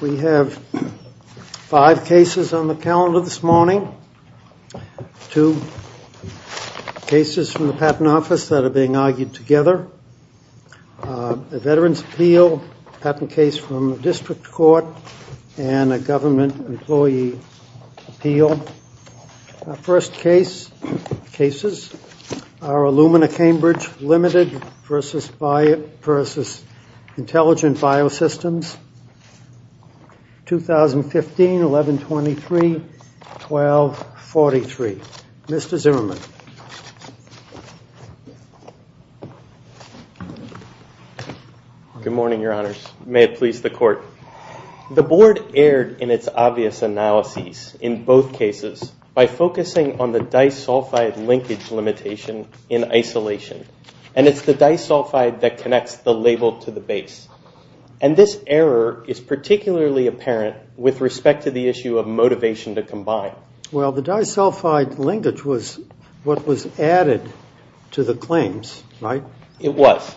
We have five cases on the calendar this morning, two cases from the Patent Office that are being argued together, a Veterans' Appeal, a patent case from the District Court, and a Government Employee Appeal. Our first cases are Illumina Cambridge Ltd. v. Intelligent Bio-Systems, 2015-11-23-12-43. Mr. Zimmerman. Good morning, Your Honors. May it please the Court. The Board erred in its obvious analyses in both cases by focusing on the disulfide linkage limitation in isolation, and it's the disulfide that connects the label to the base. And this error is particularly apparent with respect to the issue of motivation to combine. Well, the disulfide linkage was what was added to the claims, right? It was.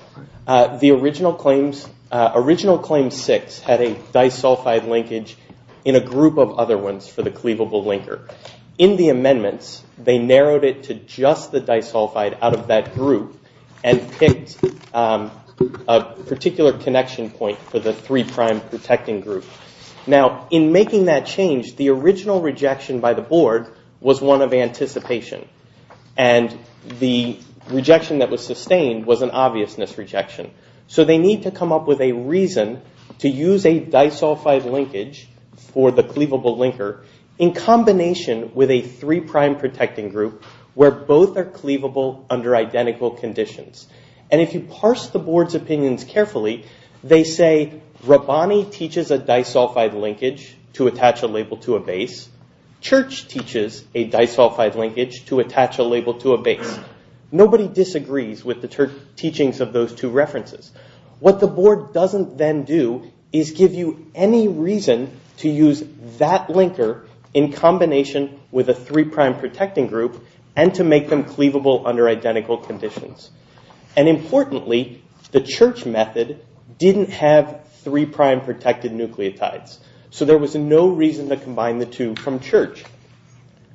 The original claim six had a disulfide linkage in a group of other ones for the cleavable linker. In the amendments, they narrowed it to just the disulfide out of that group and picked a particular connection point for the three-prime protecting group. Now, in making that change, the original rejection by the Board was one of anticipation. And the rejection that was sustained was an obviousness rejection. So they need to come up with a reason to use a disulfide linkage for the cleavable linker in combination with a three-prime protecting group where both are cleavable under identical conditions. And if you parse the Board's opinions carefully, they say Rabbani teaches a disulfide linkage to attach a label to a base. Church teaches a disulfide linkage to attach a label to a base. Nobody disagrees with the teachings of those two references. What the Board doesn't then do is give you any reason to use that linker in combination with a three-prime protecting group and to make them cleavable under identical conditions. And importantly, the Church method didn't have three-prime protected nucleotides. So there was no reason to combine the two from Church.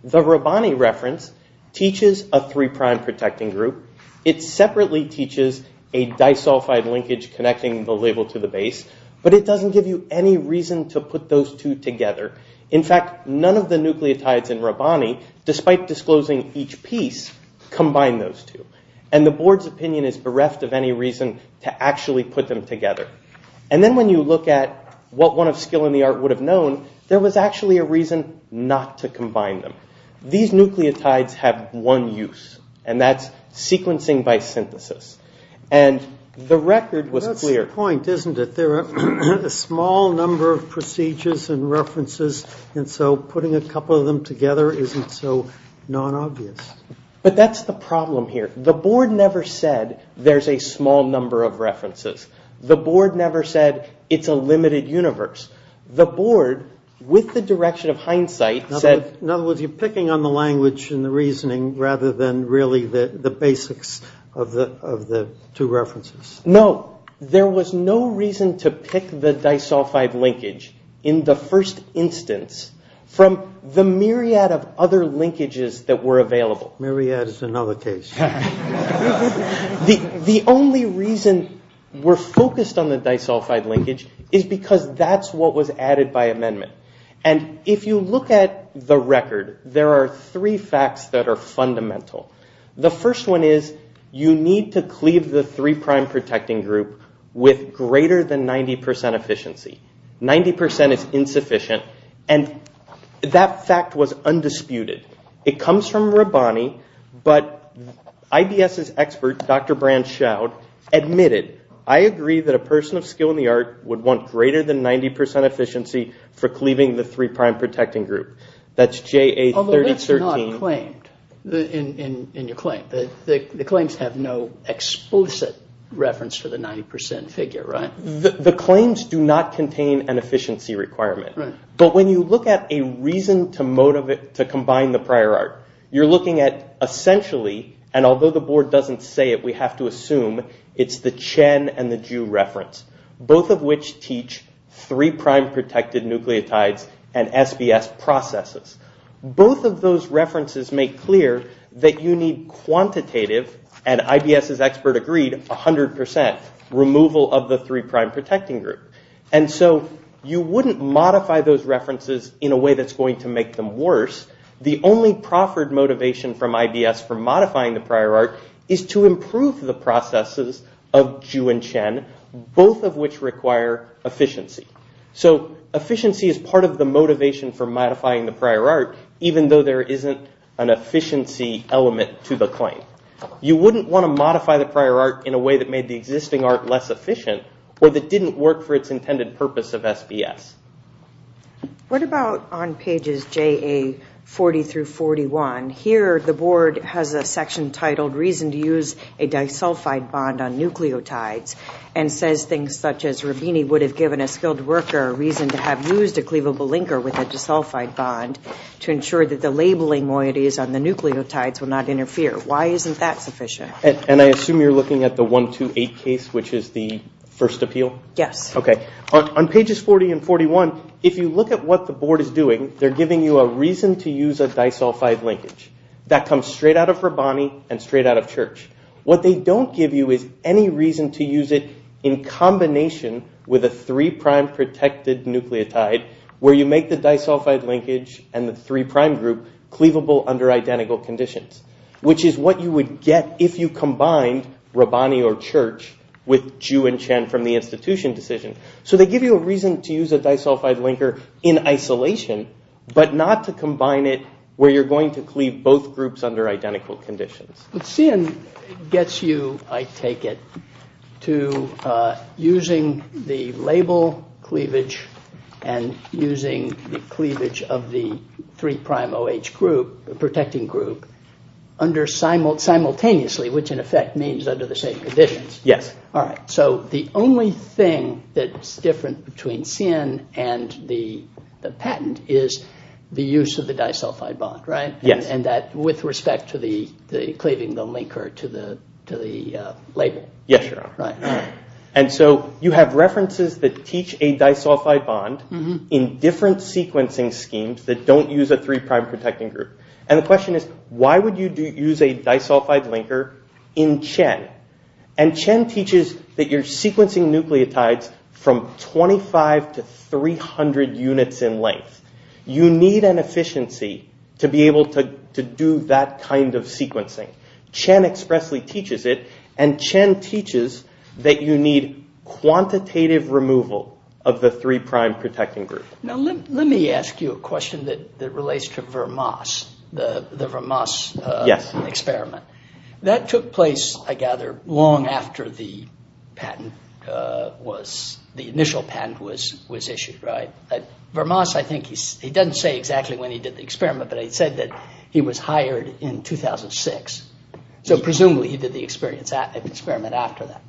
The Rabbani reference teaches a three-prime protecting group. It separately teaches a disulfide linkage connecting the label to the base. But it doesn't give you any reason to put those two together. In fact, none of the nucleotides in Rabbani, despite disclosing each piece, combine those two. And the Board's opinion is bereft of any reason to actually put them together. And then when you look at what one of Skill and the Art would have known, there was actually a reason not to combine them. These nucleotides have one use, and that's sequencing by synthesis. And the record was clear. Well, that's the point, isn't it? There are a small number of procedures and references, and so putting a couple of them together isn't so non-obvious. But that's the problem here. The Board never said there's a small number of references. The Board never said it's a limited universe. The Board, with the direction of hindsight, said... In other words, you're picking on the language and the reasoning rather than really the basics of the two references. No. There was no reason to pick the disulfide linkage in the first instance from the myriad of other linkages that were available. Myriad is another case. The only reason we're focused on the disulfide linkage is because that's what was added by amendment. And if you look at the record, there are three facts that are fundamental. The first one is you need to cleave the three-prime protecting group with greater than 90% efficiency. 90% is insufficient, and that fact was undisputed. It comes from Rabbani, but IBS's expert, Dr. Brand-Shout, admitted, I agree that a person of skill in the art would want greater than 90% efficiency for cleaving the three-prime protecting group. That's JA3013. On the lips, you're not claimed in your claim. The claims have no explicit reference for the 90% figure, right? The claims do not contain an efficiency requirement. But when you look at a reason to combine the prior art, you're looking at essentially, and although the board doesn't say it, we have to assume it's the Chen and the Ju reference, both of which teach three-prime protected nucleotides and SBS processes. Both of those references make clear that you need quantitative, and IBS's expert agreed, 100% removal of the three-prime protecting group. And so you wouldn't modify those references in a way that's going to make them worse. The only proffered motivation from IBS for modifying the prior art is to improve the processes of Ju and Chen, both of which require efficiency. So efficiency is part of the motivation for modifying the prior art, even though there isn't an efficiency element to the claim. You wouldn't want to modify the prior art in a way that made the existing art less efficient, or that didn't work for its intended purpose of SBS. What about on pages JA40 through 41? Here the board has a section titled, reason to use a disulfide bond on nucleotides, and says things such as Rabini would have given a skilled worker a reason to have used a cleavable linker with a disulfide bond to ensure that the labeling moieties on the nucleotides will not interfere. Why isn't that sufficient? And I assume you're looking at the 128 case, which is the first appeal? Yes. Okay. On pages 40 and 41, if you look at what the board is doing, they're giving you a reason to use a disulfide linkage. That comes straight out of Rabini and straight out of Church. What they don't give you is any reason to use it in combination with a three-prime protected nucleotide, where you make the disulfide linkage and the three-prime group cleavable under identical conditions, which is what you would get if you combined Rabini or Church with Ju and Chen from the institution decision. So they give you a reason to use a disulfide linker in isolation, but not to combine it where you're going to cleave both groups under identical conditions. But CN gets you, I take it, to using the label cleavage and using the cleavage of the three-prime protecting group simultaneously, which in effect means under the same conditions. Yes. All right. So the only thing that's different between CN and the patent is the use of the disulfide bond, right? Yes. And that with respect to the cleaving the linker to the label. Yes, Your Honor. Right. And so you have references that teach a disulfide bond in different sequencing schemes that don't use a three-prime protecting group. And the question is, why would you use a disulfide linker in Chen? And Chen teaches that you're sequencing nucleotides from 25 to 300 units in length. You need an efficiency to be able to do that kind of sequencing. Chen expressly teaches it. And Chen teaches that you need quantitative removal of the three-prime protecting group. Now, let me ask you a question that relates to Vermas, the Vermas experiment. Yes. That took place, I gather, long after the patent was, the initial patent was issued, right? Vermas, I think, he doesn't say exactly when he did the experiment, but he said that he was hired in 2006. So presumably, he did the experiment after that.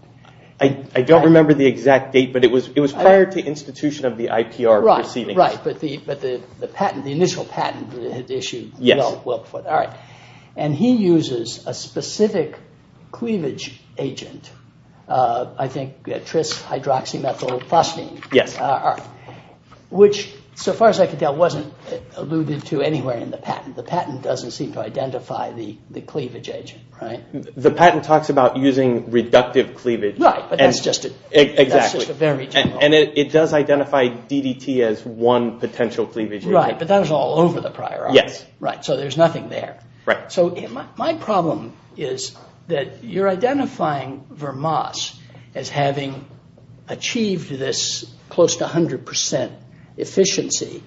I don't remember the exact date, but it was prior to institution of the IPR proceeding. Right. But the patent, the initial patent issued well before that. Yes. All right. And he uses a specific cleavage agent, I think Tris-hydroxymethylprosteine. Yes. Which, so far as I can tell, wasn't alluded to anywhere in the patent. The patent doesn't seem to identify the cleavage agent, right? The patent talks about using reductive cleavage. Right. But that's just a very general... Exactly. And it does identify DDT as one potential cleavage agent. Right. But that was all over the prior art. Yes. Right. So there's nothing there. Right. So my problem is that you're identifying Vermas as having achieved this close to 100% efficiency,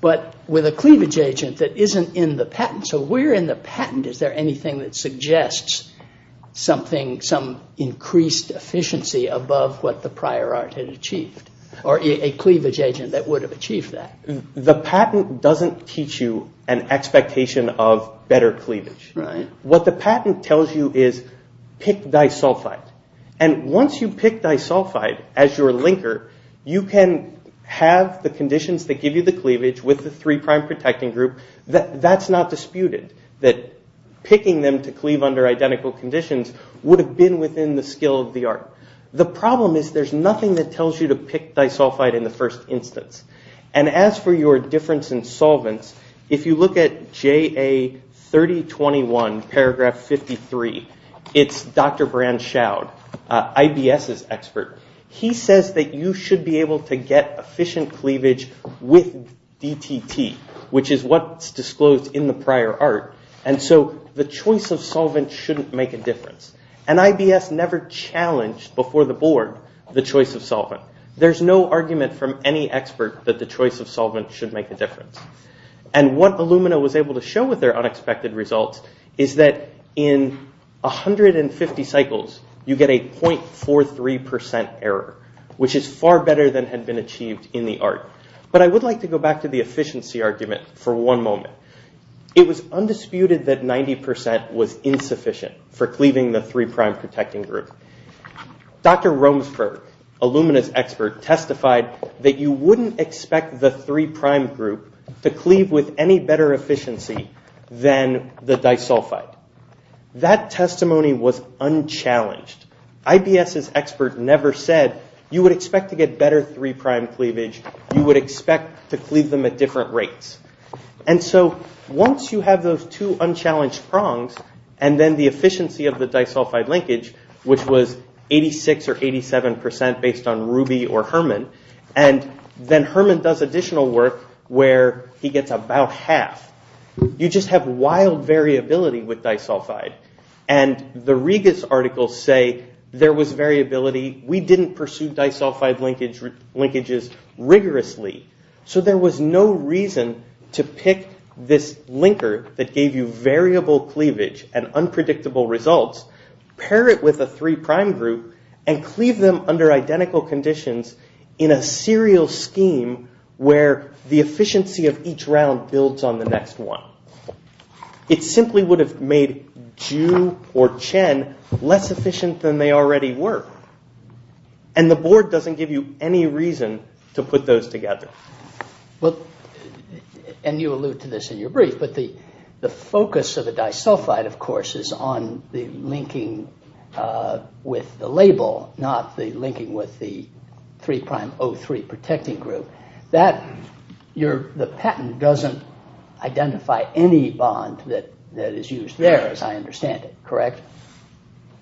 but with a cleavage agent that isn't in the patent. So where in the patent is there anything that suggests something, some increased efficiency above what the prior art had achieved, or a cleavage agent that would have achieved that? The patent doesn't teach you an expectation of better cleavage. Right. What the patent tells you is pick disulfide. And once you pick disulfide as your linker, you can have the conditions that give you the cleavage with the 3' protecting group. That's not disputed. That picking them to cleave under identical conditions would have been within the skill of the art. The problem is there's nothing that tells you to pick disulfide in the first instance. And as for your difference in solvents, if you look at JA3021, paragraph 53, it's Dr. Brand Schaud, IBS's expert. He says that you should be able to get efficient cleavage with DTT, which is what's disclosed in the prior art, and so the choice of solvent shouldn't make a difference. And IBS never challenged before the board the choice of solvent. There's no argument from any expert that the choice of solvent should make a difference. And what Illumina was able to show with their unexpected results is that in 150 cycles, you get a .43% error, which is far better than had been achieved in the art. But I would like to go back to the efficiency argument for one moment. It was undisputed that 90% was insufficient for cleaving the 3' protecting group. Dr. Romsberg, Illumina's expert, testified that you wouldn't expect the 3' group to cleave with any better efficiency than the disulfide. That testimony was unchallenged. IBS's expert never said you would expect to get better 3' cleavage you would expect to cleave them at different rates. And so once you have those two unchallenged prongs, and then the efficiency of the disulfide linkage, which was 86 or 87% based on Ruby or Herman, and then Herman does additional work where he gets about half, you just have wild variability with disulfide. And the Regas articles say there was variability. We didn't pursue disulfide linkages rigorously. So there was no reason to pick this linker that gave you variable cleavage and unpredictable results, pair it with a 3' group, and cleave them under identical conditions in a serial scheme where the efficiency of each round builds on the next one. It simply would have made Ju or Chen less efficient than they already were. And the board doesn't give you any reason to put those together. And you allude to this in your brief, but the focus of the disulfide, of course, is on the linking with the label, not the linking with the 3'03 protecting group. The patent doesn't identify any bond that is used there, as I understand it, correct?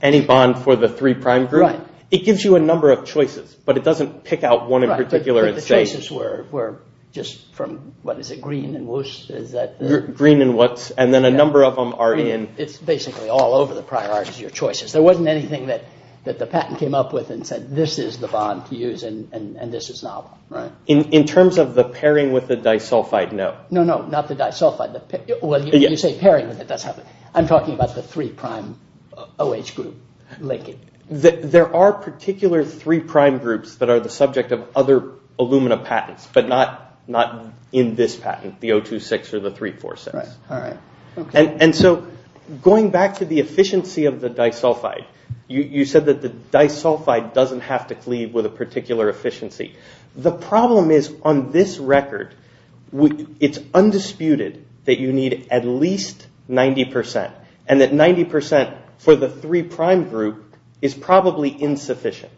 Any bond for the 3' group? It gives you a number of choices, but it doesn't pick out one in particular and say... The choices were just from, what is it, Green and Woost? Green and Woost, and then a number of them are in... It's basically all over the priorities, your choices. There wasn't anything that the patent came up with and said this is the bond to use and this is novel. In terms of the pairing with the disulfide, no. No, not the disulfide. I'm talking about the 3'OH group linking. There are particular 3' groups that are the subject of other Illumina patents, but not in this patent, the 026 or the 346. Going back to the efficiency of the disulfide, you said that the disulfide doesn't have to leave with a particular efficiency. The problem is, on this record, it's undisputed that you need at least 90%, and that 90% for the 3' group is probably insufficient.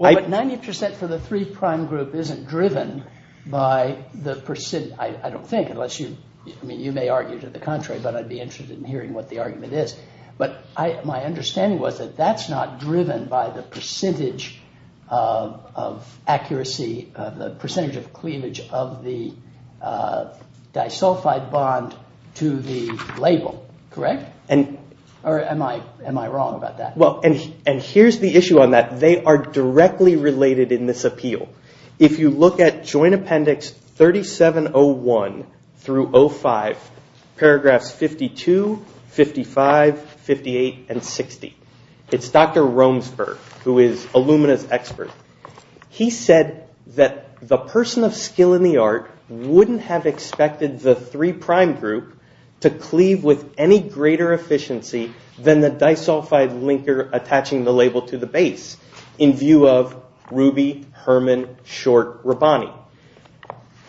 90% for the 3' group isn't driven by the percent... I don't think, unless you... You may argue to the contrary, but I'd be interested in hearing what the argument is. My understanding was that that's not driven by the percentage of cleavage of the disulfide bond to the label. Am I wrong about that? Here's the issue on that. They are directly related in this appeal. If you look at Joint Appendix 3701 through 05, paragraphs 52, 55, 58, and 60, it's Dr. Romsberg, who is Illumina's expert. He said that the person of skill in the art wouldn't have expected the 3' group to cleave with any greater efficiency than the disulfide linker attaching the label to the base in view of Ruby, Herman, Short, Rabbani.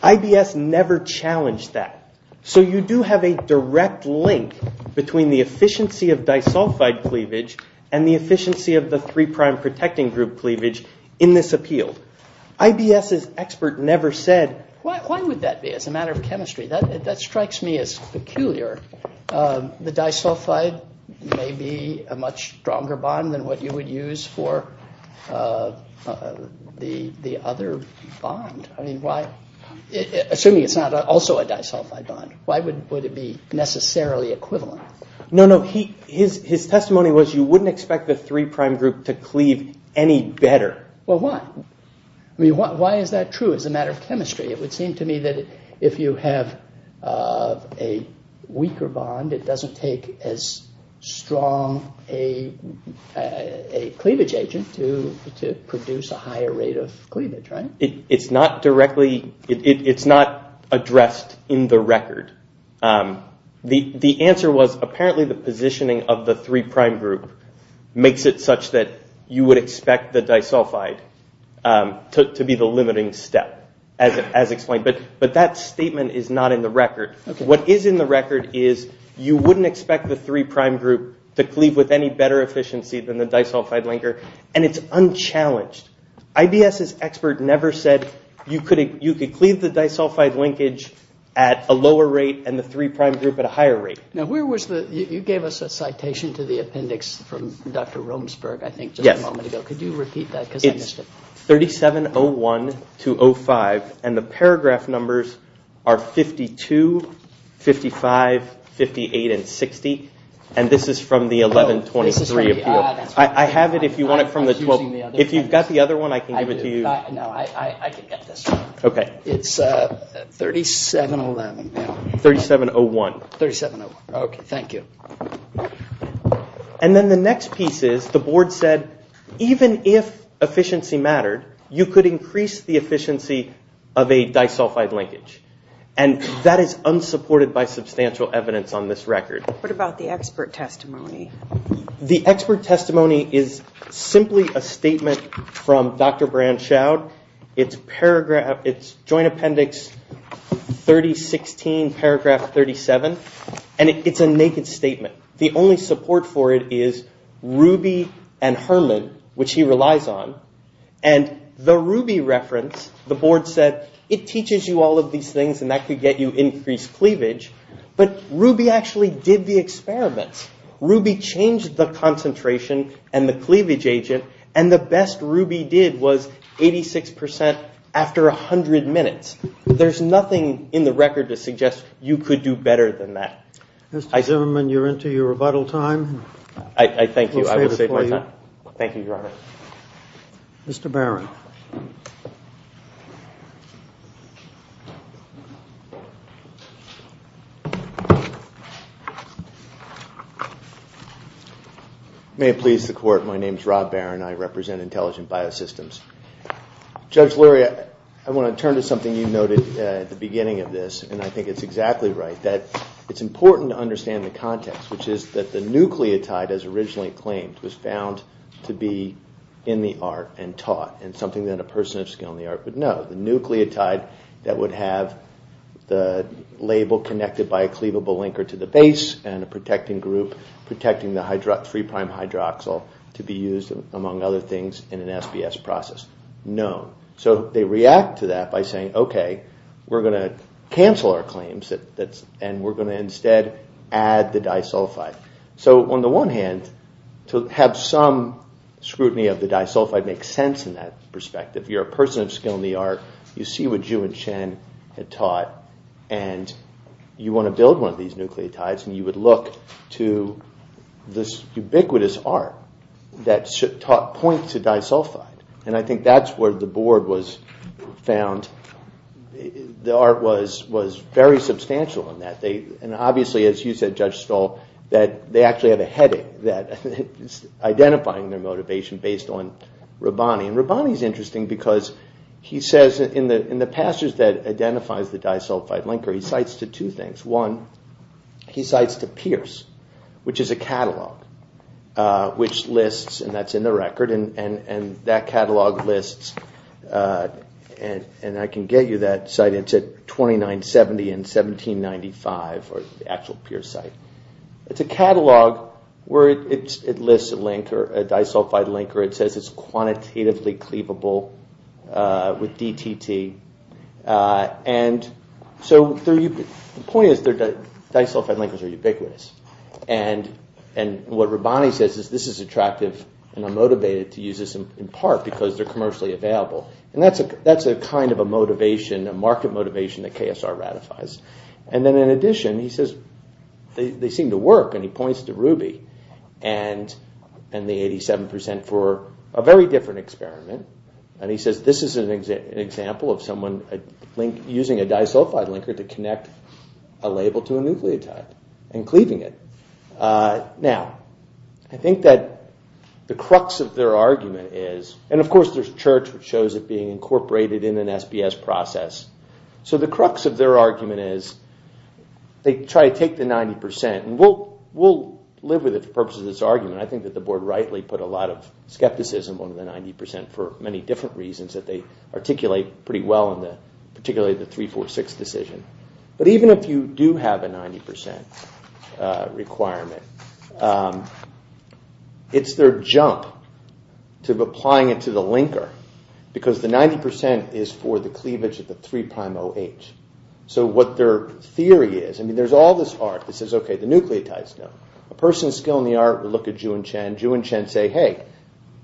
IBS never challenged that. So you do have a direct link between the efficiency of disulfide cleavage and the efficiency of the 3' protecting group cleavage in this appeal. Why would that be as a matter of chemistry? That strikes me as peculiar. The disulfide may be a much stronger bond than what you would use for the other bond. Assuming it's not also a disulfide bond, why would it be necessarily equivalent? His testimony was that you wouldn't expect the 3' group to cleave any better. Why is that true as a matter of chemistry? It would seem to me that if you have a weaker bond, it doesn't take as strong a cleavage agent to produce a higher rate of cleavage. It's not addressed in the record. The answer was, apparently the positioning of the 3' group makes it such that you would expect the disulfide to be the limiting step. But that statement is not in the record. What is in the record is you wouldn't expect the 3' group to cleave with any better efficiency than the disulfide linker, and it's unchallenged. IBS's expert never said you could cleave the disulfide linkage at a lower rate and the 3' group at a higher rate. You gave us a citation to the appendix from Dr. Romsberg a moment ago. Could you repeat that? It's 3701-05 and the paragraph numbers are 52, 55, 58, and 60. This is from the 1123 appeal. I have it if you want it from the 12. If you've got the other one, I can give it to you. It's 3701. 3701. Thank you. And then the next piece is the board said even if efficiency mattered you could increase the efficiency of a disulfide linkage. That is unsupported by substantial evidence on this record. What about the expert testimony? The expert testimony is simply a statement from Dr. Brandschaud. It's Joint Appendix 3016, paragraph 37. It's a naked statement. The only support for it is Ruby and Herman which he relies on. The Ruby reference, the board said it teaches you all of these things and that could get you increased cleavage but Ruby actually did the experiments. Ruby changed the concentration and the cleavage agent and the best Ruby did was 86% after 100 minutes. There's nothing in the record to suggest you could do better than that. Mr. Zimmerman, you're into your rebuttal time. I thank you. Thank you, Your Honor. Mr. Barron. May it please the court, my name is Rob Barron. I represent Intelligent Biosystems. Judge Lurie, I want to turn to something you noted at the beginning of this and I think it's exactly right that it's important to understand the context which is that the nucleotide as originally claimed was found to be in the art and taught and something that a person of skill in the art would know. The nucleotide that would have the label connected by a cleavable linker to the base and a protecting group protecting the 3' hydroxyl to be used among other things in an SBS process. No. So they react to that by saying, okay, we're going to cancel our claims and we're going to instead add the disulfide. So on the one hand, to have some scrutiny of the disulfide makes sense in that perspective. You're a person of skill in the art. You see what Ju and Chen had taught and you want to build one of these nucleotides and you would look to this ubiquitous art that points to disulfide and I think that's where the board was found. The art was very substantial in that. And obviously, as you said, Judge Stoll, that they actually had a headache identifying their motivation based on Rabbani. And Rabbani's interesting because he says in the passage that identifies the disulfide linker he cites to two things. One, he cites to Pierce, which is a catalogue which lists, and that's in the record, and that catalogue lists, and I can get you that site, it's at 2970 and 1795, the actual Pierce site. It's a catalogue where it lists a linker, a disulfide linker. It says it's quantitatively cleavable with DTT. And so the point is that disulfide linkers are ubiquitous. And what Rabbani says is this is attractive and I'm motivated to use this in part because they're commercially available. And that's a kind of a motivation, a market motivation that KSR ratifies. And then in addition, he says they seem to work and he points to Ruby and the 87% for a very different experiment. And he says this is an example of someone using a disulfide linker to connect a label to a nucleotide and cleaving it. Now, I think that the crux of their argument is, and of course there's Church which shows it being incorporated in an SBS process, so the crux of their argument is they try to take the 90%, and we'll live with it for the purposes of this argument. I think that the board rightly put a lot of skepticism on the 90% for many different reasons that they articulate pretty well in particularly the 346 decision. But even if you do have a 90% requirement, it's their jump to applying it to the linker because the 90% is for the cleavage of the 3'OH. So what their theory is, I mean, there's all this art that says, okay, the nucleotide's done. A person's skill in the art would look at Zhu and Chen. Zhu and Chen say, hey,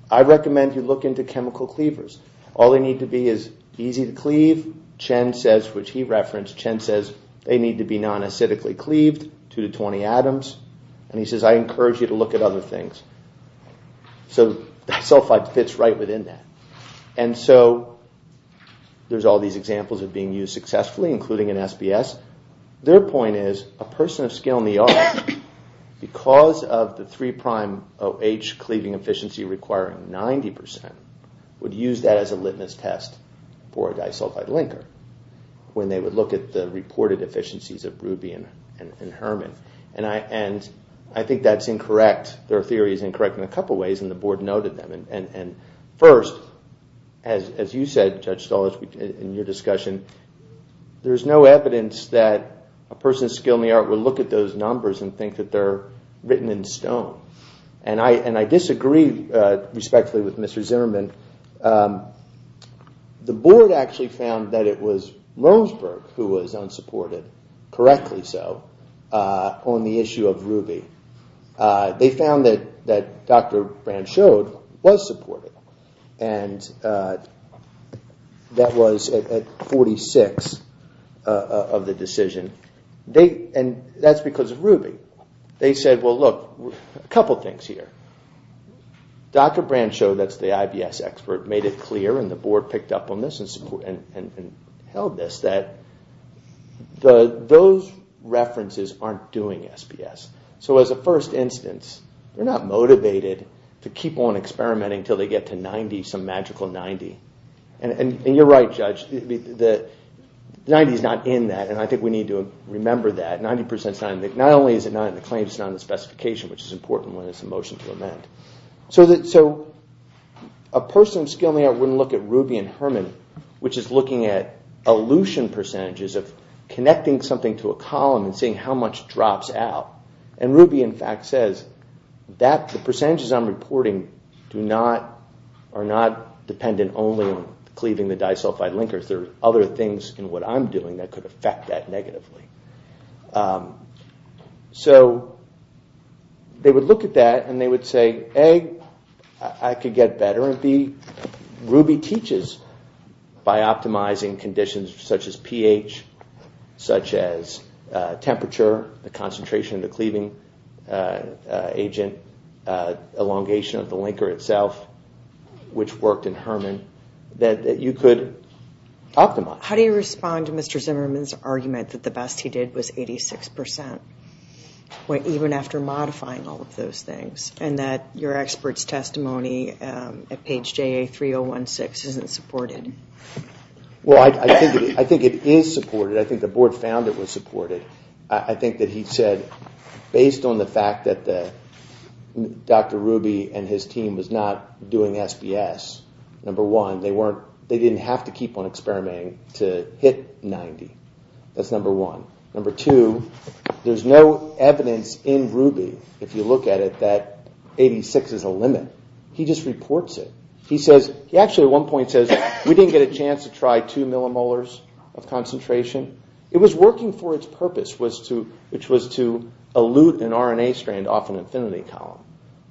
I recommend you look into chemical cleavers. All they need to be is easy to cleave. Chen says, which he referenced, they need to be non-acidically cleaved, 2 to 20 atoms. And he says, I encourage you to look at other things. So disulfide fits right within that. And so there's all these examples of being used successfully including in SBS. Their point is, a person of skill in the art, because of the 3'OH cleaving efficiency requiring 90%, would use that as a litmus test for a disulfide linker when they would look at the reported efficiencies of Ruby and Herman. And I think that's incorrect. Their theory is incorrect in a couple of ways, and the board noted them. First, as you said, Judge Stolich, in your discussion, there's no evidence that a person of skill in the art would look at those numbers and think that they're written in stone. And I disagree respectfully with Mr. Zimmerman. The board actually found that it was Roseburg who was unsupported, correctly so, on the issue of Ruby. They found that Dr. Branschow was supported, and that was at 46 of the decision. And that's because of Ruby. They said, well look, a couple things here. Dr. Branschow, that's the IBS expert, made it clear and the board picked up on this and held this that those references aren't doing SPS. So as a first instance, they're not motivated to keep on experimenting until they get to 90, some magical 90. And you're right, Judge. 90 is not in that, and I think we need to remember that. Not only is it not in the claim, it's not in the specification, which is important when it's a motion to amend. So a person of skill in the art wouldn't look at Ruby and Herman, which is looking at elution percentages of connecting something to a column and seeing how much drops out. And Ruby, in fact, says that the percentages I'm reporting are not dependent only on cleaving the disulfide linker. There are other things in what I'm doing that could affect that negatively. So they would look at that and they would say, A, I could get better, and B, Ruby teaches by optimizing conditions such as pH, such as temperature, the concentration of the cleaving agent, elongation of the linker itself, which worked in Herman, that you could optimize. How do you respond to Mr. Zimmerman's argument that the best he did was 86%, even after modifying all of those things, and that your expert's testimony at page JA3016 isn't supported? Well, I think it is supported. I think the board found it was supported. I think that he said, based on the fact that Dr. Ruby and his team was not doing SPS, number one, they didn't have to keep on experimenting to hit 90. That's number one. Number two, there's no evidence in Ruby, if you look at it, that 86 is a limit. He just reports it. He says, he actually at one point says, we didn't get a chance to try two millimolars of concentration. It was working for its purpose, which was to elute an RNA strand off an infinity column,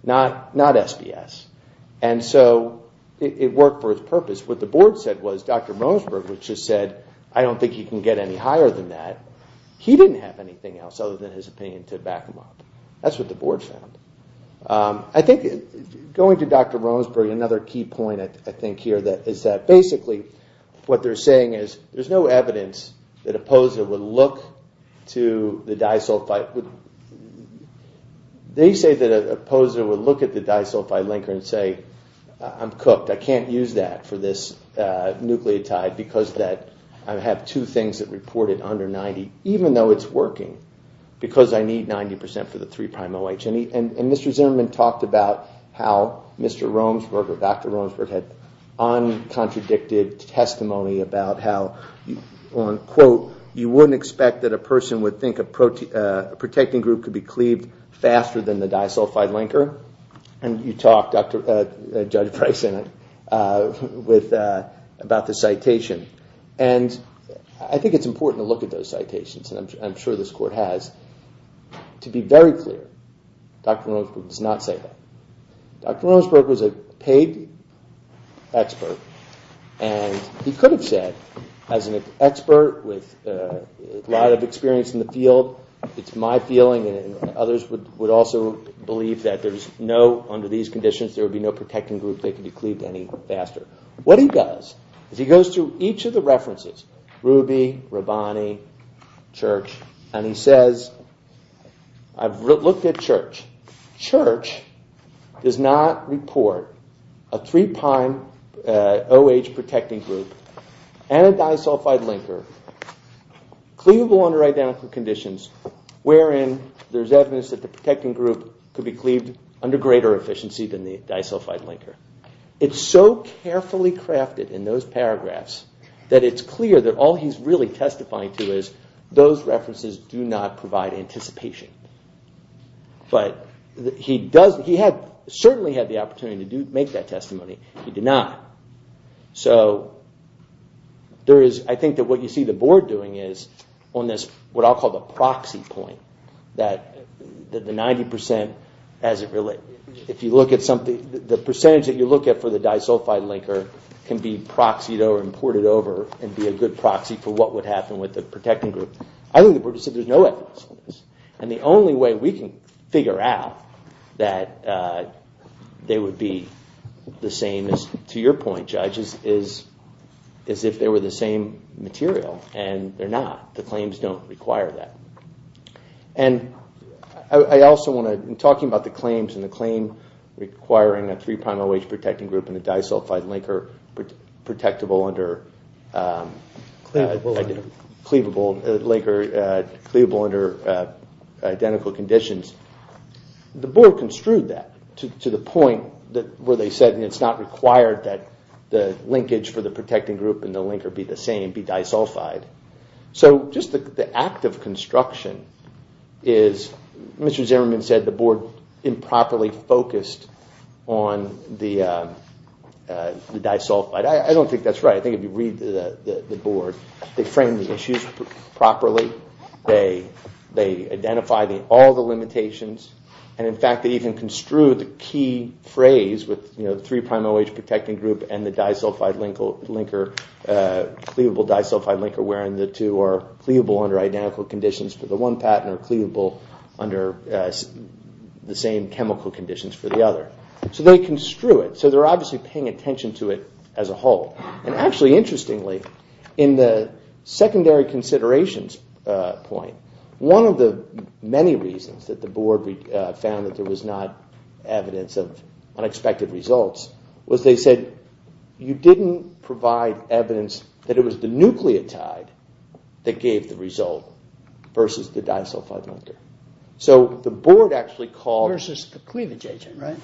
not SPS. And so it worked for its purpose. What the board said was, Dr. Mosberg, which just said, I don't think he can get any higher than that, he didn't have anything else other than his opinion to back him up. That's what the board found. Going to Dr. Rosberg, another key point I think here is that basically what they're saying is there's no evidence that a poser would look to the disulfide linker and say, I'm cooked, I can't use that for this nucleotide because I have two things that reported under 90, even though it's working, because I need 90% for the 3'-OH. And Mr. Zimmerman talked about how Dr. Rosberg had uncontradicted testimony about how you wouldn't expect that a person would think a protecting group could be cleaved faster than the disulfide linker. And you talked, Judge Price, about the citation. I think it's important to look at those citations, and I'm sure this Court has, to be very clear Dr. Rosberg does not say that. Dr. Rosberg was a paid expert and he could have said, as an expert with a lot of experience in the field, it's my feeling, and others would also believe that under these conditions there would be no protecting group that could be cleaved any faster. What he does is he goes through each of the references, Ruby, Rabbani, Church, and he says, I've looked at Church, Church does not report a 3'-OH protecting group and a disulfide linker cleavable under identical conditions wherein there's evidence that the protecting group could be cleaved under greater efficiency than the disulfide linker. It's so carefully crafted in those paragraphs that it's clear that all he's really testifying to is those references do not provide anticipation. But he certainly had the opportunity to make that testimony. He did not. So I think that what you see the Board doing is on this, what I'll call the proxy point, that the 90%, if you look at something, the percentage that you look at for the disulfide linker can be proxied over and ported over and be a good proxy for what would happen with the protecting group. I think the Board said there's no evidence on this. And the only way we can figure out that they would be the same, to your point, Judge, is if they were the same material. And they're not. The claims don't require that. And I also want to, in talking about the claims and the claim requiring a 3-prime OH protecting group and a disulfide linker protectable under cleavable linker under identical conditions, the Board construed that to the point where they said it's not required that the linkage for the protecting group and the linker be the same, be disulfide. So just the act of construction is, Mr. Zimmerman said the Board improperly focused on the disulfide. I don't think that's right. I think if you read the Board, they framed the issues properly, they identified all the limitations, and in fact they even construed the key phrase with the 3-prime OH protecting group and the disulfide linker cleavable disulfide linker where the two are cleavable under identical conditions for the one patent or cleavable under the same chemical conditions for the other. So they construed it. So they're obviously paying attention to it as a whole. And actually, interestingly, in the secondary considerations point, one of the many reasons that the Board found that there was not evidence of unexpected results was they said you didn't provide evidence that it was the nucleotide that gave the result versus the disulfide linker. Versus the cleavage agent, right?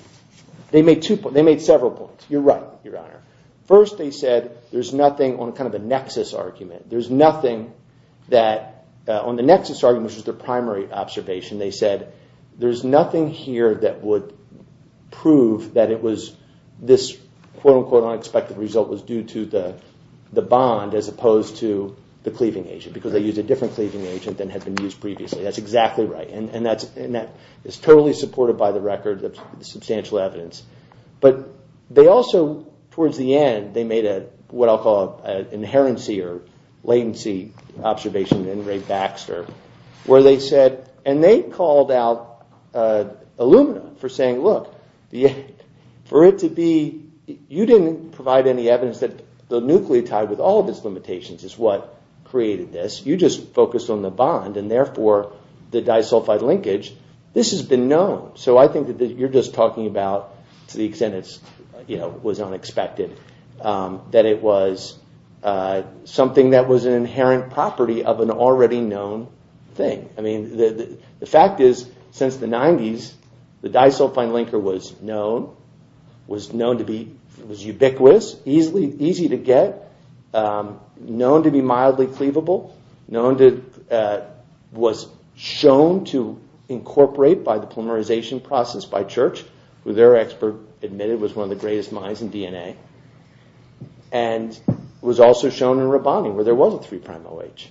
They made several points. You're right, Your Honor. First, they said there's nothing on kind of a nexus argument. There's nothing on the nexus argument which was their primary observation. They said there's nothing here that would prove that it was this quote-unquote unexpected result was due to the bond as opposed to the cleaving agent because they used a different cleaving agent than had been used previously. That's exactly right. And that is totally supported by the record, the substantial evidence. But they also, towards the end, they made what I'll call an inherency or latency observation in Ray Baxter where they said and they called out Illumina for saying, look, for it to be you didn't provide any evidence that the nucleotide with all of its limitations is what created this. You just focused on the bond and therefore the disulfide linkage, this has been known. So I think that you're just talking about to the extent it was unexpected, that it was something that was an inherent property of an already known thing. I mean, the fact is since the 90s, the disulfide linker was known, was known to be ubiquitous, easy to get, known to be mildly cleavable, was shown to incorporate by the polymerization process by Church who their expert admitted was one of the greatest minds in DNA and was also shown in Rabani where there was a 3'OH.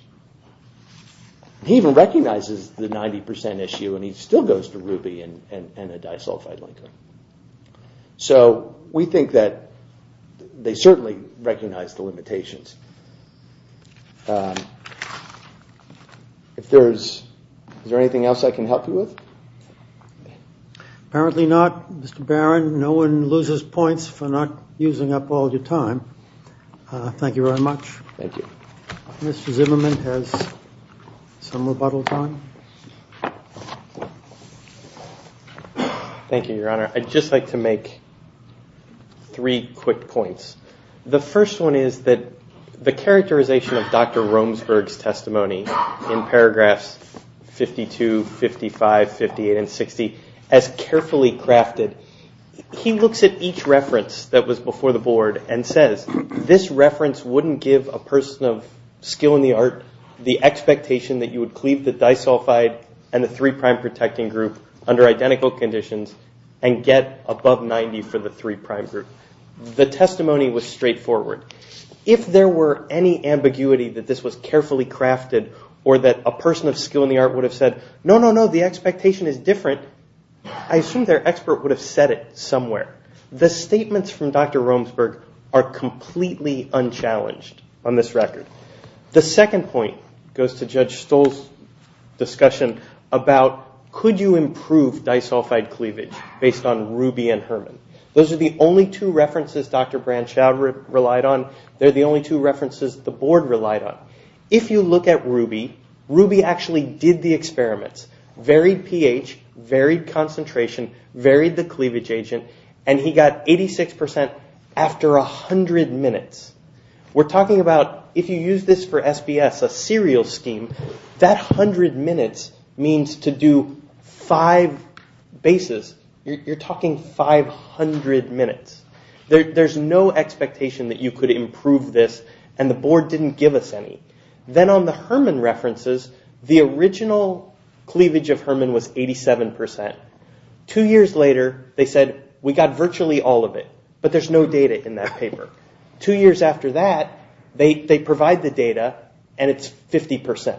He even recognizes the 90% issue and he still goes to Ruby and a disulfide linker. So we think that they certainly recognize the limitations. Is there anything else I can help you with? Apparently not. Mr. Barron, no one loses points for not using up all your time. Thank you very much. Thank you. Mr. Zimmerman has some rebuttal time. Thank you, Your Honor. I'd just like to make three quick points. The first one is that the characterization of Dr. Romesburg's testimony in paragraphs 52, 55, 58, and 60 as carefully crafted, he looks at each reference that was before the board and says, this reference wouldn't give a person of skill in the art the expectation that you would cleave the disulfide and the 3' protecting group under identical conditions and get above 90 for the 3' group. The testimony was straightforward. If there were any ambiguity that this was carefully crafted or that a person of skill in the art would have said, no, no, no, the expectation is different, I assume their expert would have said it somewhere. The statements from Dr. Romesburg are completely unchallenged on this record. The second point goes to Judge Stoll's discussion about could you improve disulfide cleavage based on Ruby and Herman. Those are the only two references Dr. Branschow relied on. They're the only two references the board relied on. If you look at Ruby, Ruby actually did the experiments. Varied pH, varied concentration, varied the cleavage agent, and he got 86% after 100 minutes. We're talking about, if you use this for SBS, a serial scheme, that 100 minutes means to do five bases. You're talking 500 minutes. There's no expectation that you could improve this and the board didn't give us any. Then on the Herman references, the original cleavage of Herman was 87%. Two years later, they said we got virtually all of it, but there's no data in that paper. Two years after that, they provide the data and it's 50%.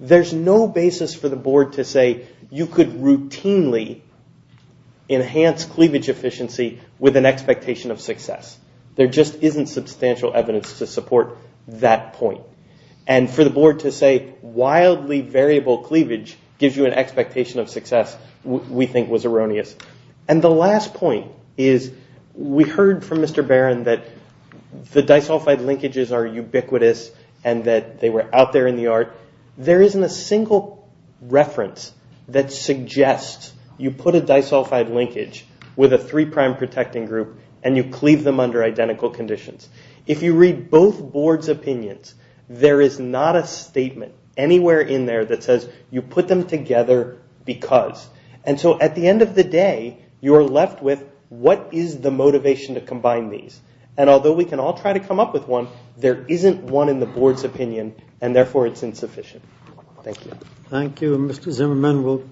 There's no basis for the board to say you could routinely enhance cleavage efficiency with an expectation of success. There just isn't substantial evidence to support that point. For the board to say, wildly variable cleavage gives you an expectation of success we think was erroneous. The last point is, we heard from Mr. Barron that the disulfide linkages are ubiquitous and that they were out there in the art. There isn't a single reference that suggests you put a disulfide linkage with a three prime protecting group and you cleave them under identical conditions. If you read both boards' opinions, there is not a statement anywhere in there that says you put them together because. At the end of the day, you're left with what is the motivation to combine these? Although we can all try to come up with one, there isn't one in the board's opinion and therefore it's insufficient. Thank you.